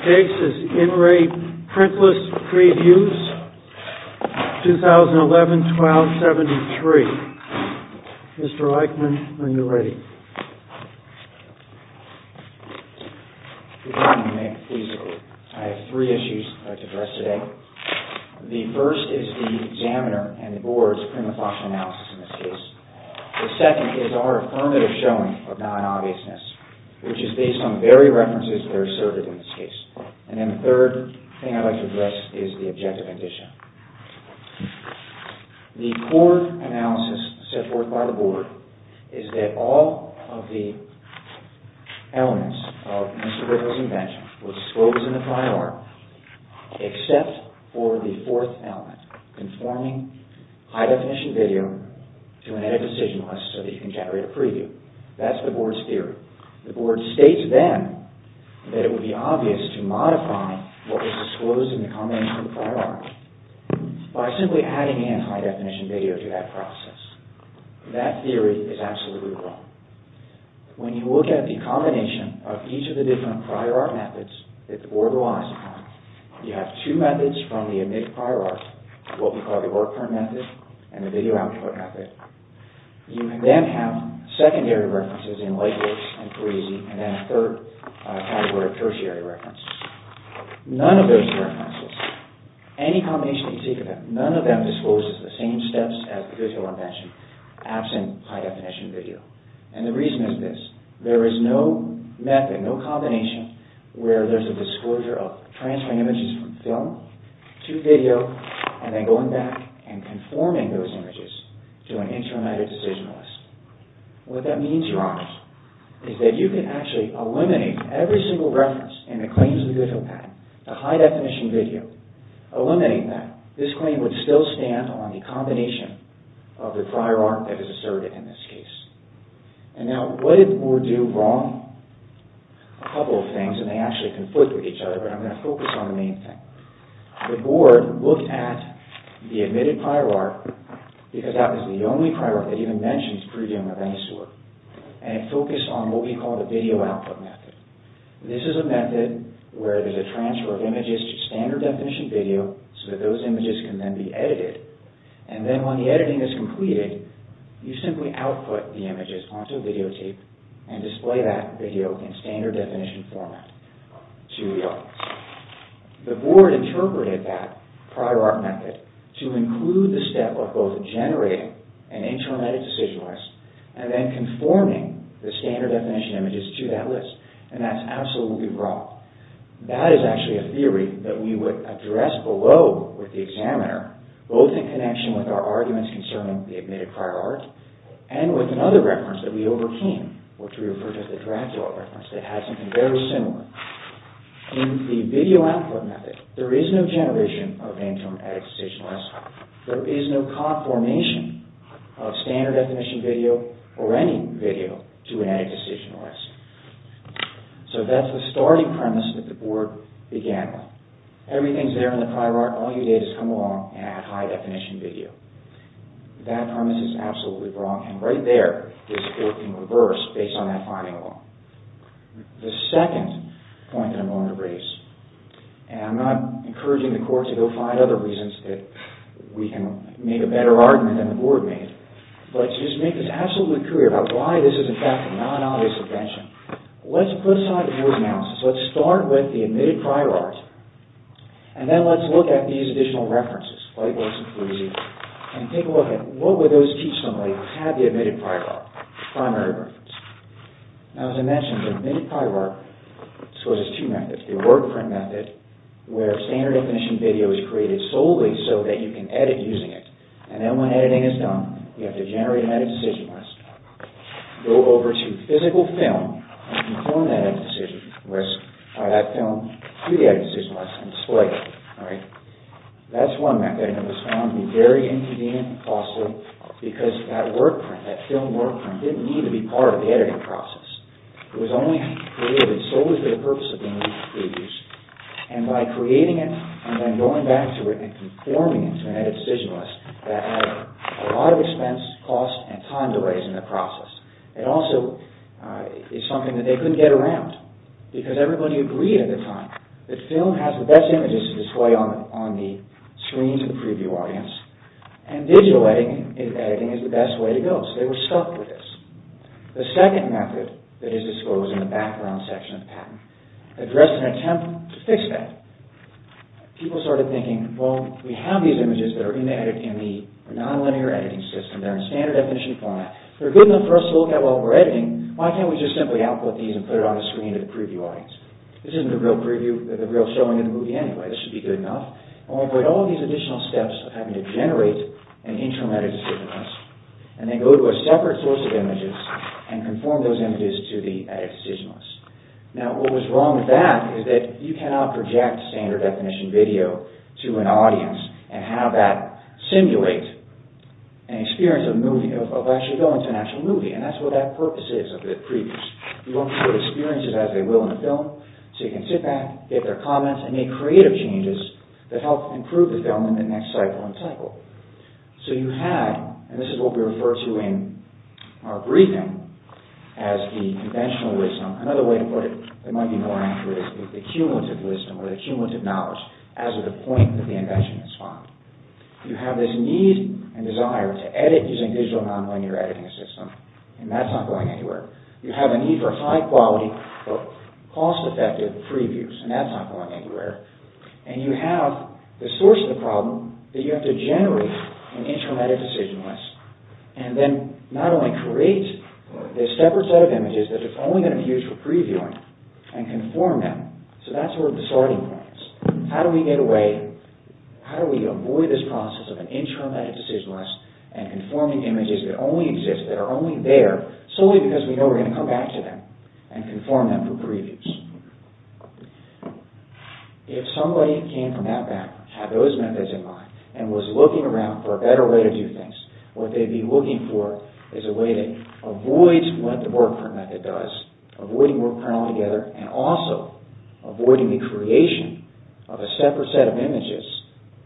Case is IN RE PRINTLESS PREVIEWS, 2011-12-73. Mr. Eichmann, are you ready? Good morning, Nick. Please, go ahead. I have three issues I'd like to address today. The first is the examiner and the board's prima facie analysis in this case. The second is our affirmative showing of non-obviousness, which is based on the very references that are asserted in this case. And then the third thing I'd like to address is the objective condition. The core analysis set forth by the board is that all of the elements of Mr. Ripple's invention were disclosed in the prior art, except for the fourth element, conforming high-definition video to an edit decision list so that you can generate a preview. That's the board's theory. The board states then that it would be obvious to modify what was disclosed in the combination of the prior art by simply adding anti-definition video to that process. That theory is absolutely wrong. When you look at the combination of each of the different prior art methods that the board relies upon, you have two methods from the omit prior art, what we call the work current method, and the video output method. You then have secondary references in Lightworks and Parisi, and then a third category of tertiary references. None of those references, any combination you can think of, none of them discloses the same steps as the visual invention absent high-definition video. And the reason is this. There is no method, no combination, where there's a disclosure of transferring images from film to video and then going back and conforming those images to an intramedic decision list. What that means, Your Honor, is that you can actually eliminate every single reference in the claims of the Goodwill Patent, the high-definition video. Eliminate that. This claim would still stand on the combination of the prior art that is asserted in this case. And now, what did the board do wrong? A couple of things, and they actually conflict with each other, but I'm going to focus on the main thing. The board looked at the omitted prior art because that was the only prior art that even mentions previewing of any sort. And it focused on what we call the video output method. This is a method where there's a transfer of images to standard-definition video so that those images can then be edited. And then when the editing is completed, you simply output the images onto videotape and display that video in standard-definition format to the audience. The board interpreted that prior art method to include the step of both generating an interim edit decision list and then conforming the standard-definition images to that list. And that's absolutely wrong. That is actually a theory that we would address below with the examiner, both in connection with our arguments concerning the omitted prior art and with another reference that we overcame, which we referred to as the drag-draw reference that had something very similar. In the video output method, there is no generation of an interim edit decision list. There is no conformation of standard-definition video or any video to an edit decision list. So that's the starting premise that the board began with. Everything's there in the prior art. All you did is come along and add high-definition video. That premise is absolutely wrong, and right there is working reverse based on that finding law. The second point that I'm going to raise, and I'm not encouraging the court to go find other reasons that we can make a better argument than the board made, but to just make this absolutely clear about why this is, in fact, a non-obvious invention, let's put aside the noise analysis. Let's start with the omitted prior art, and then let's look at these additional references, Lightworks and Fruzzi, and take a look at what would those teach somebody who had the omitted prior art, the primary reference. Now, as I mentioned, the omitted prior art, there's two methods. The work print method, where standard definition video is created solely so that you can edit using it, and then when editing is done, you have to generate an edit decision list, go over to physical film, and perform an edit decision list, tie that film to the edit decision list, and display it. That's one method, and it was found to be very inconvenient and costly because that work print, that film work print, didn't need to be part of the editing process. It was only created solely for the purpose of being used. And by creating it, and then going back to it, and conforming it to an edit decision list, that added a lot of expense, cost, and time delays in the process. It also is something that they couldn't get around because everybody agreed at the time that film has the best images to display on the screens of the preview audience, and digital editing is the best way to go, so they were stuck with this. The second method that is disclosed in the background section of the patent addressed an attempt to fix that. People started thinking, well, we have these images that are in the non-linear editing system, they're in standard definition format, they're good enough for us to look at while we're editing, why can't we just simply output these and put it on the screen of the preview audience? This isn't the real preview, the real showing of the movie anyway, this should be good enough, and we'll avoid all these additional steps of having to generate an interim edit decision list, and then go to a separate source of images and conform those images to the edit decision list. Now, what was wrong with that is that you cannot project standard definition video to an audience and have that simulate an experience of actually going to an actual movie, and that's what that purpose is of the previews. You want people to experience it as they will in the film, so you can sit back, get their comments, and make creative changes that help improve the film in the next cycle and cycle. So you have, and this is what we refer to in our briefing, as the conventional wisdom, another way to put it that might be more accurate is the cumulative wisdom, or the cumulative knowledge, as the point that the invention is found. You have this need and desire to edit using digital non-linear editing systems, and that's not going anywhere. You have a need for high-quality, and that's not going anywhere. And you have the source of the problem that you have to generate an intramedic decision list and then not only create this separate set of images that are only going to be used for previewing and conform them, so that's sort of the starting point. How do we get away, how do we avoid this process of an intramedic decision list and conforming images that only exist, that are only there, solely because we know we're going to come back to them and conform them for previews? If somebody came from that background, had those methods in mind, and was looking around for a better way to do things, what they'd be looking for is a way that avoids what the wordprint method does, avoiding wordprint altogether, and also avoiding the creation of a separate set of images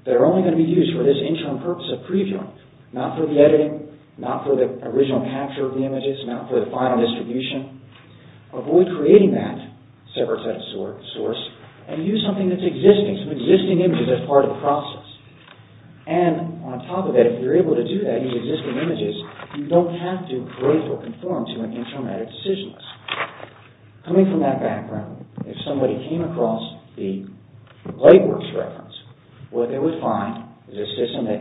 that are only going to be used for this interim purpose of previewing, not for the editing, not for the original capture of the images, not for the final distribution. Avoid creating that separate set of source and use something that's existing, create some existing images as part of the process. And on top of that, if you're able to do that, use existing images, you don't have to create or conform to an intramedic decision list. Coming from that background, if somebody came across the Lightworks reference, what they would find is a system that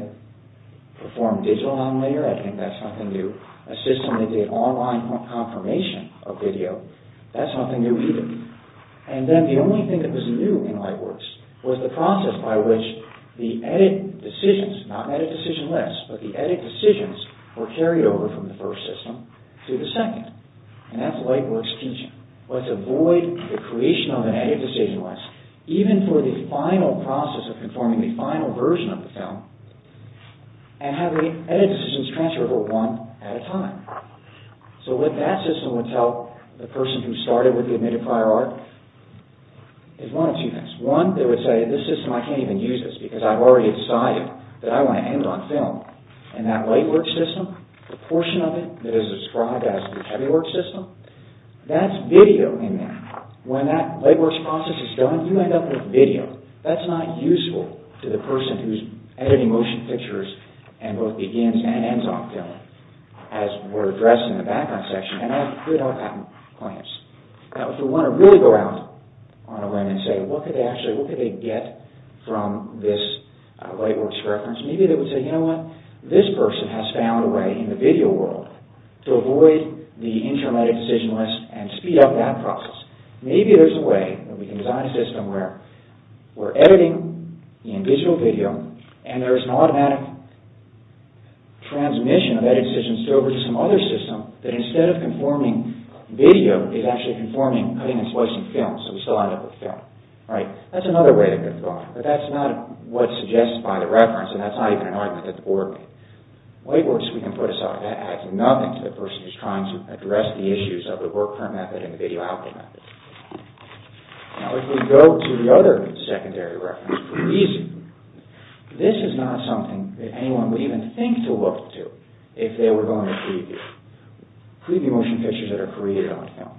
performed digital non-linear editing, that's nothing new, a system that did online confirmation of video, that's nothing new either. And then the only thing that was new in Lightworks was the process by which the edit decisions, not an edit decision list, but the edit decisions were carried over from the first system to the second. And that's Lightworks teaching. Let's avoid the creation of an edit decision list, even for the final process of conforming the final version of the film, and having edit decisions transferred over one at a time. So what that system would tell the person who started with the admitted prior art is one of two things. One, they would say, this system, I can't even use this because I've already decided that I want to end on film. And that Lightworks system, the portion of it that is described as the heavy work system, that's video in there. When that Lightworks process is done, you end up with video. That's not useful to the person who's editing motion pictures and both begins and ends on film, as were addressed in the background section. And that would create our patent claims. Now, if we want to really go out on a limb and say, what could they actually get from this Lightworks reference, maybe they would say, you know what? This person has found a way in the video world to avoid the interim edit decision list and speed up that process. Maybe there's a way that we can design a system where we're editing in digital video and there's an automatic transmission of edit decisions over to some other system that instead of conforming video, is actually conforming cutting and slicing film, so we still end up with film. That's another way to think about it. But that's not what's suggested by the reference and that's not even an argument at the board meeting. Lightworks, we can put aside. That adds nothing to the person who's trying to address the issues of the work current method and the video output method. Now, if we go to the other secondary reference, this is not something that anyone would even think to look to if they were going to preview. Preview motion pictures that are created on film.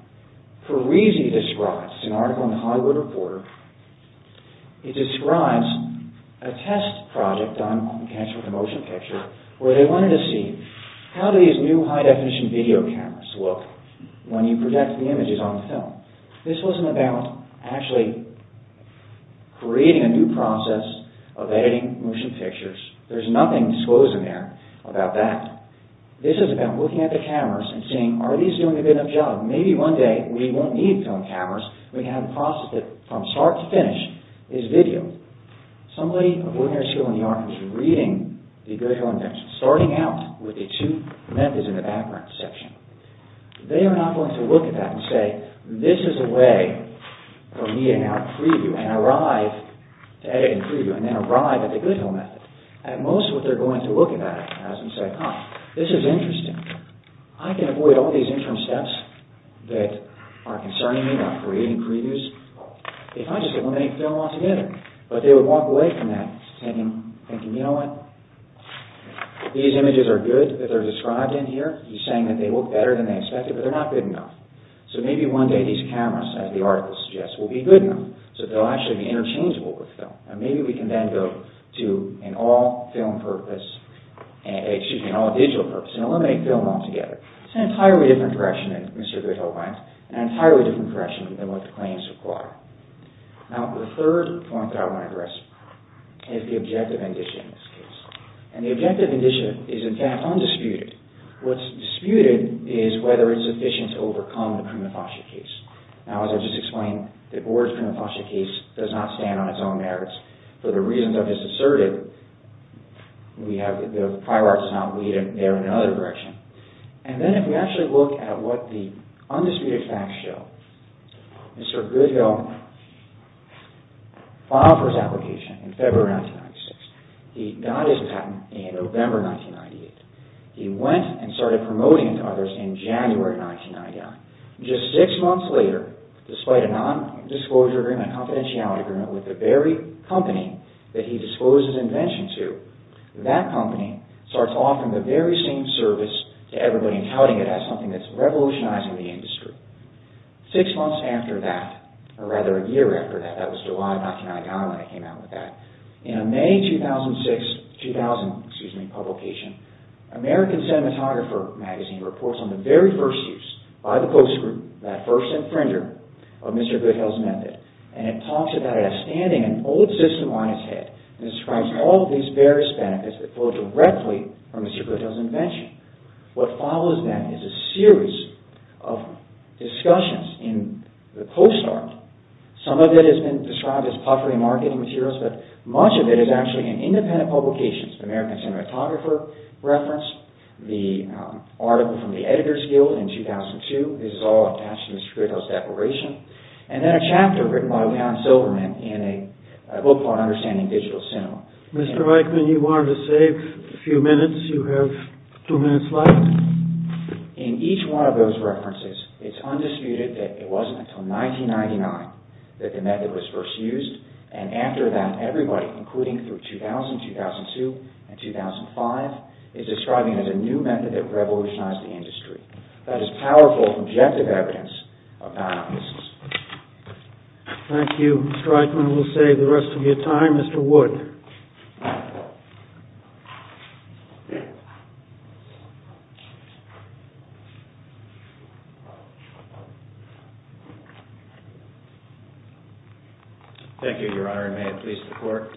Parisi describes, it's an article in the Hollywood Reporter, he describes a test project done on cancer with a motion picture where they wanted to see how do these new high definition video cameras look when you project the images on film. This wasn't about actually creating a new process of editing motion pictures. There's nothing disclosed in there about that. This is about looking at the cameras and saying, are these doing a good enough job? Maybe one day we won't need film cameras. We can have a process that, from start to finish, is video. Somebody of ordinary skill in the art who's reading the Good Hill Invention, starting out with the two methods in the background section, they are not going to look at that and say, this is a way for me to now preview and arrive to edit and preview and then arrive at the Good Hill method. At most what they're going to look at is this is interesting. I can avoid all these interim steps that are concerning me, that are creating previews, if I just eliminate film altogether. But they would walk away from that thinking, you know what? If these images are good, if they're described in here, he's saying that they look better than they expected, but they're not good enough. So maybe one day these cameras, as the article suggests, will be good enough so that they'll actually be interchangeable with film. Maybe we can then go to an all-film purpose, excuse me, an all-digital purpose and eliminate film altogether. It's an entirely different direction than Mr. Good Hill went, an entirely different direction than what the claims require. Now, the third point that I want to address is the objective indicia in this case. And the objective indicia is, in fact, undisputed. What's disputed is whether it's sufficient to overcome the prima facie case. Now, as I just explained, the Board's prima facie case does not stand on its own merits. For the reasons I've just asserted, we have the fireworks not leading there in another direction. And then if we actually look at what the undisputed facts show, Mr. Good Hill filed for his application in February 1996. He got his patent in November 1998. He went and started promoting it to others in January 1999. Just six months later, despite a non-disclosure agreement, a confidentiality agreement with the very company that he disclosed his invention to, that company starts offering the very same service to everybody and touting it as something that's revolutionizing the industry. Six months after that, or rather a year after that, that was July of 1999 when I came out with that, in a May 2006, 2000, excuse me, publication, American Cinematographer magazine reports on the very first use by the Post Group, that first infringer of Mr. Good Hill's method. And it talks about it as standing an old system on its head and describes all these various benefits that flow directly from Mr. Good Hill's invention. What follows then is a series of discussions in the Post Army. Some of it has been described as puffery marketing materials, but much of it is actually in independent publications. American Cinematographer referenced the article from the Editor's Guild in 2002. This is all attached to Mr. Good Hill's declaration. And then a chapter written by Leon Silverman in a book called Understanding Digital Cinema. Mr. Reichman, you wanted to save a few minutes. You have two minutes left. In each one of those references, it's undisputed that it wasn't until 1999 that the method was first used. And after that, everybody, including through 2000, 2002, and 2005, is describing it as a new method that revolutionized the industry. That is powerful, objective evidence of that. Thank you, Mr. Reichman. We'll save the rest of your time. Mr. Wood. Thank you, Your Honor, and may it please the Court.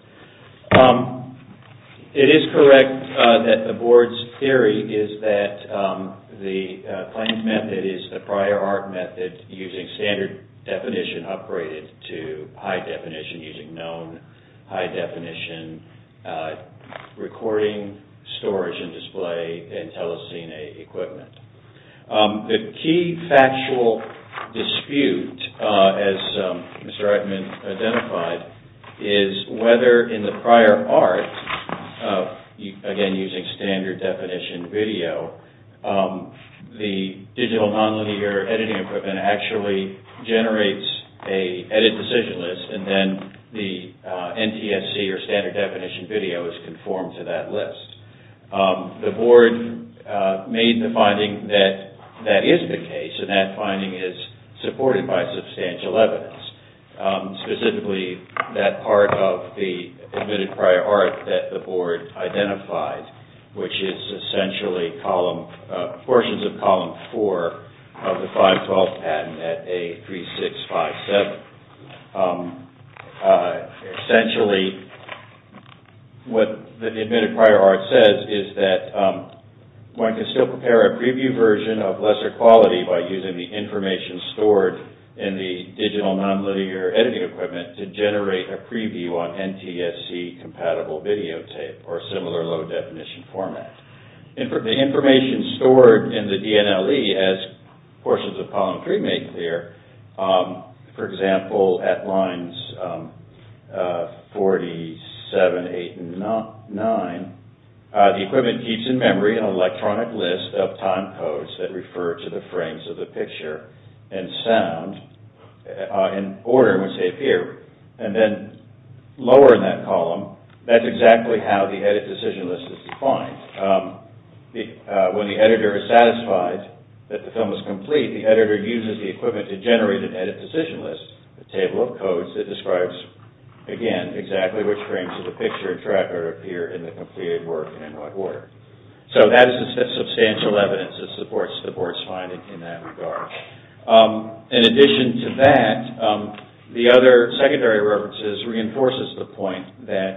It is correct that the Board's theory is that the claimed method is the prior art method using standard definition upgraded to high definition using known high definition recording, storage, and display in telecine equipment. The key factual dispute, as Mr. Reichman identified, is whether in the prior art, again using standard definition, video, the digital nonlinear editing equipment actually generates an edit decision list and then the NTSC or standard definition video is conformed to that list. The Board made the finding that that is the case and that finding is supported by substantial evidence. Specifically, that part of the admitted prior art that the Board identified, which is essentially portions of column 4 of the 512 patent at A3657. Essentially, what the admitted prior art says is that one can still prepare a preview version of lesser quality by using the information stored in the digital nonlinear editing equipment to generate a preview on NTSC-compatible videotape or similar low-definition format. The information stored in the DNLE as portions of column 3 make clear, for example, at lines 47, 8, and 9, the equipment keeps in memory an electronic list of time codes that refer to the frames of the picture and sound in order in which they appear and then lower in that column, that's exactly how the edit decision list is defined. When the editor is satisfied that the film is complete, the editor uses the equipment to generate an edit decision list, a table of codes that describes, again, exactly which frames of the picture appear in the completed work and in what order. So that is the substantial evidence that supports the Board's finding in that regard. In addition to that, the other secondary references reinforces the point that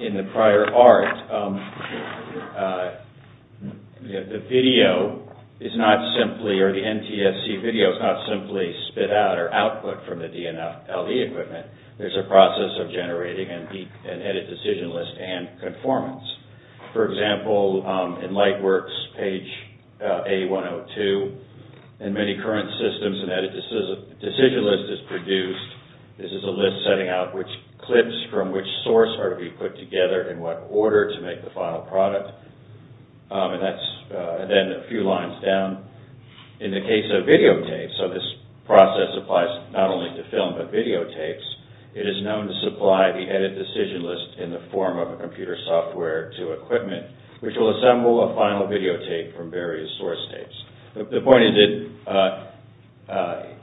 in the prior art, the video is not simply, or the NTSC video is not simply spit out or output from the DNLE equipment. There's a process of generating an edit decision list and conformance. For example, in Lightworks, page A102, in many current systems, an edit decision list is produced. This is a list setting out which clips from which source are to be put together in what order to make the final product. And that's then a few lines down. In the case of videotapes, so this process applies not only to film, but videotapes, it is known to supply the edit decision list in the form of a computer software to equipment, which will assemble a final videotape from various source tapes. The point is,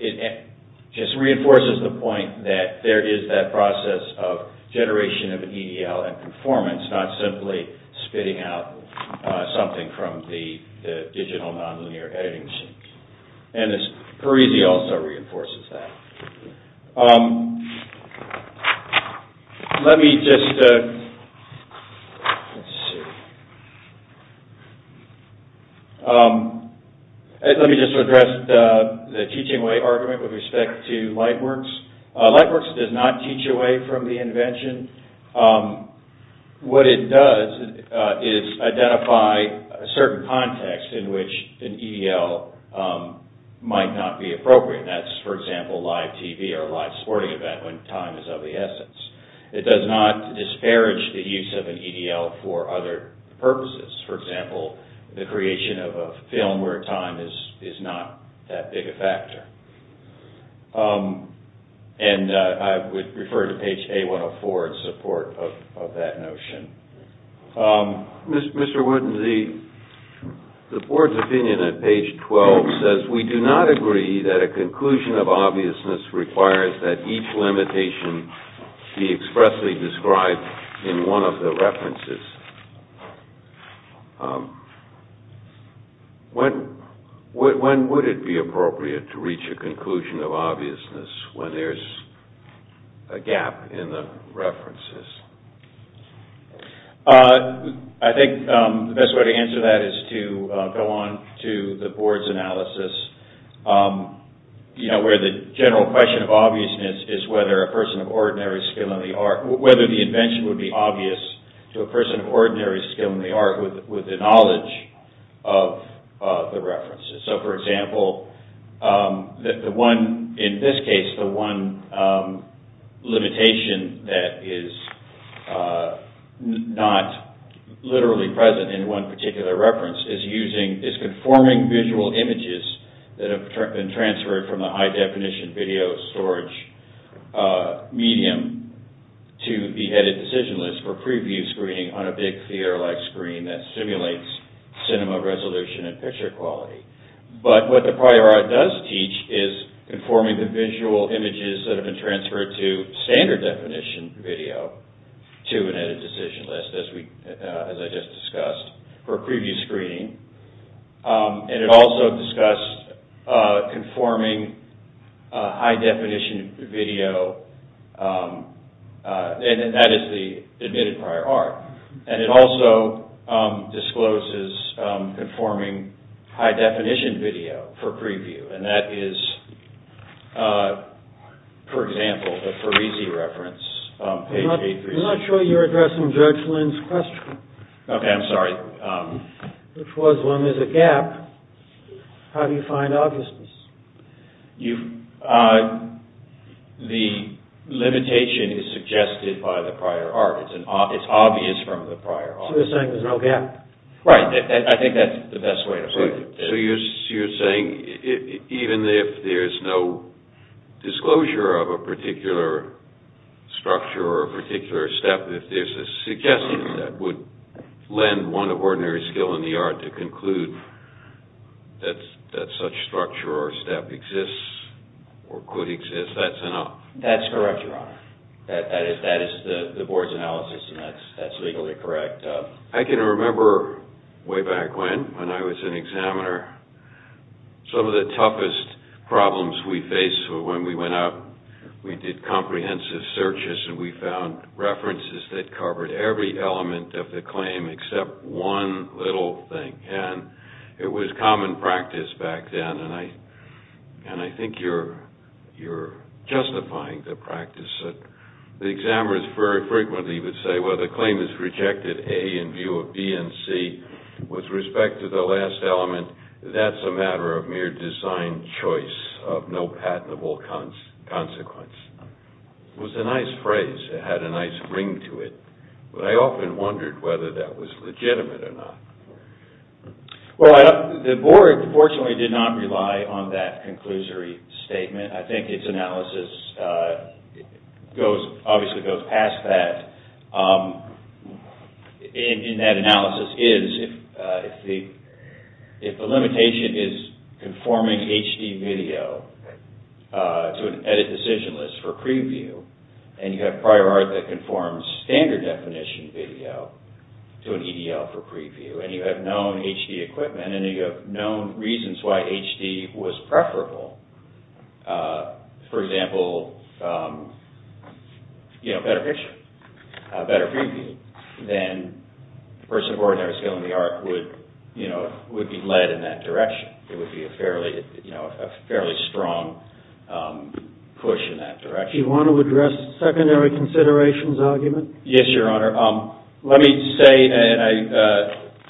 it just reinforces the point that there is that process of generation of EDL and conformance, not simply spitting out something from the digital nonlinear editing machine. And Parisi also reinforces that. Let me just, let's see, let me just address the teaching way argument with respect to Lightworks. Lightworks does not teach away from the invention. What it does is identify a certain context in which an EDL might not be appropriate. That's, for example, live TV or live sporting event when time is of the essence. It does not disparage the use of an EDL for other purposes. For example, the creation of a film where time is not that big a factor. And I would refer to page A104 in support of that notion. Mr. Wood, the board's opinion at page 12 says, we do not agree that a conclusion of obviousness requires that each limitation be expressly described in one of the references. When would it be appropriate to reach a conclusion of obviousness when there's a gap in the references? I think the best way to answer that is to go on to the board's analysis where the general question of obviousness is whether a person of ordinary skill in the art, whether the invention would be obvious to a person of ordinary skill in the art with the knowledge of the references. So, for example, the one in this case, the one limitation that is not literally present in one particular reference is using, is conforming visual images that have been transferred from the high-definition video storage medium to the headed decision list for preview screening on a big theater-like screen that simulates cinema resolution and picture quality. But what the prior art does teach is conforming the visual images that have been transferred to standard-definition video to an edited decision list as we, as I just discussed for preview screening. And it also discussed conforming high-definition video and that is the admitted prior art. And it also discloses conforming high-definition video for preview and that is for example, the Parisi reference on page 836. I'm not sure you're addressing Judge Lynn's question. Okay, I'm sorry. Which was, when there's a gap, how do you find obviousness? The limitation is suggested by the prior art. It's obvious from the prior art. So you're saying there's no gap? Right. I think that's the best way to put it. So you're saying even if there's no disclosure of a particular structure or a particular step, if there's a suggestion that would lend one of ordinary skill in the art to conclude that such structure or step exists or could exist, that's enough? Your Honor. That is the Board's analysis and that's legally correct. I can remember way back when, when I was an examiner, some of the toughest problems we faced when we went up, we did comprehensive searches and we found references that covered every element of the claim except one little thing. And it was common practice back then, and I think you're justifying the practice that the examiners very frequently would say, well, the claim is rejected, A, in view of B and C. With respect to the last element, that's a matter of mere design choice of no patentable consequence. It was a nice phrase. It had a nice ring to it. But I often wondered whether that was legitimate or not. Well, the Board fortunately did not rely on that conclusory statement. I think its analysis goes, obviously, goes past that. In that analysis is, if the limitation is conforming HD video to an edit decision list for preview, and you have prior art that conforms standard definition video to an EDL for preview, and you have known HD equipment, and you have known reasons why HD was preferable, for example, better picture, better preview, then the person who organized the skill in HD would be led in that direction. It would be a fairly strong push in that direction. Do you want to address secondary considerations argument? Yes, Your Honor. Let me say that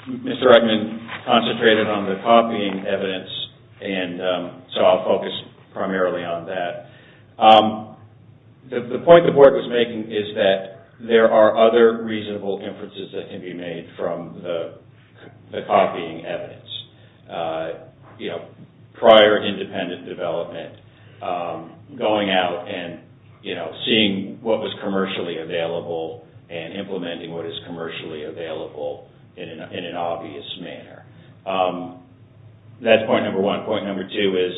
Mr. Reitman concentrated on the copying evidence, so I'll focus primarily on that. The point the Board was making is that there are other reasonable inferences that can be made from the copying evidence. Prior independent development, going out and seeing what was commercially available, and implementing what is commercially available in an obvious manner. That's point number one. Point number two is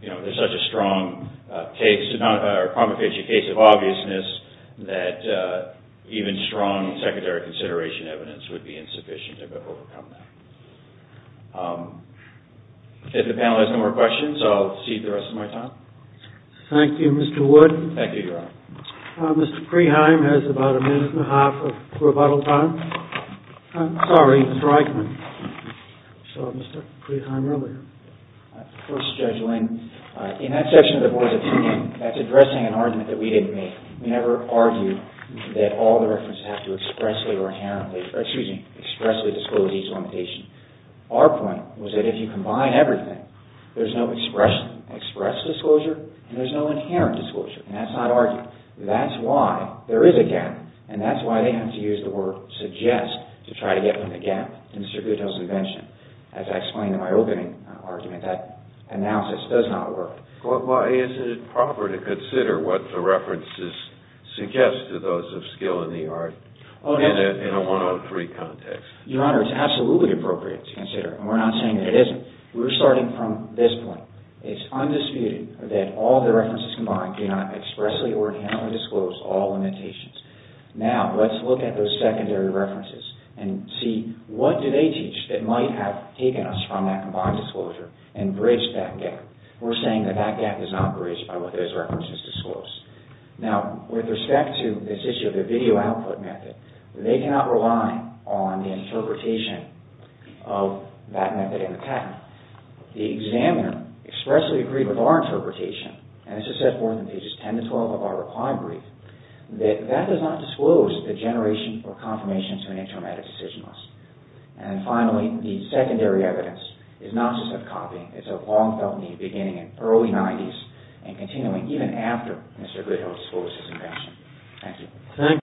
there's such a strong case, a case of obviousness, that even strong secondary consideration evidence would be insufficient to overcome that. If the panel has no more questions, I'll cede the rest of my time. Thank you, Mr. Wood. Thank you, Your Honor. Mr. Preheim has about a minute and a half of rebuttal time. I'm sorry, Mr. Eichmann, you saw Mr. Preheim earlier. Of course, Judge Lin, in that section of the board's opinion, that's addressing an argument that we didn't make. We never argued that all the references have to expressly or inherently excuse me, expressly disclosure. That's not our argument. That's why there is a gap and that's why they have to use the word suggest to try to get them to get Mr. Goodell's invention. As I explained in my opening argument, that analysis does not work. Why isn't it proper to consider what the references suggest to those of skill in the art in a 103 context? Your Honor, it's absolutely appropriate to consider. We're not saying that it isn't. We're starting from this point. It's undisputed that all the references combined do not expressly or inherently disclose all limitations. Now, let's look at those secondary evidences. What are those secondary evidences? Now, with respect to this issue of the video output method, they cannot rely on the interpretation of that method in the patent. The examiner expressly agreed with our interpretation and this is set forth in pages 10-12 of our reply brief that that does not disclose the generation or confirmation to an intramedic decision list. And finally, the secondary evidence is not just of copying. It's of long-felt need beginning in early 90s and continuing even after Mr. Goodhill disclosed his invention. Thank you.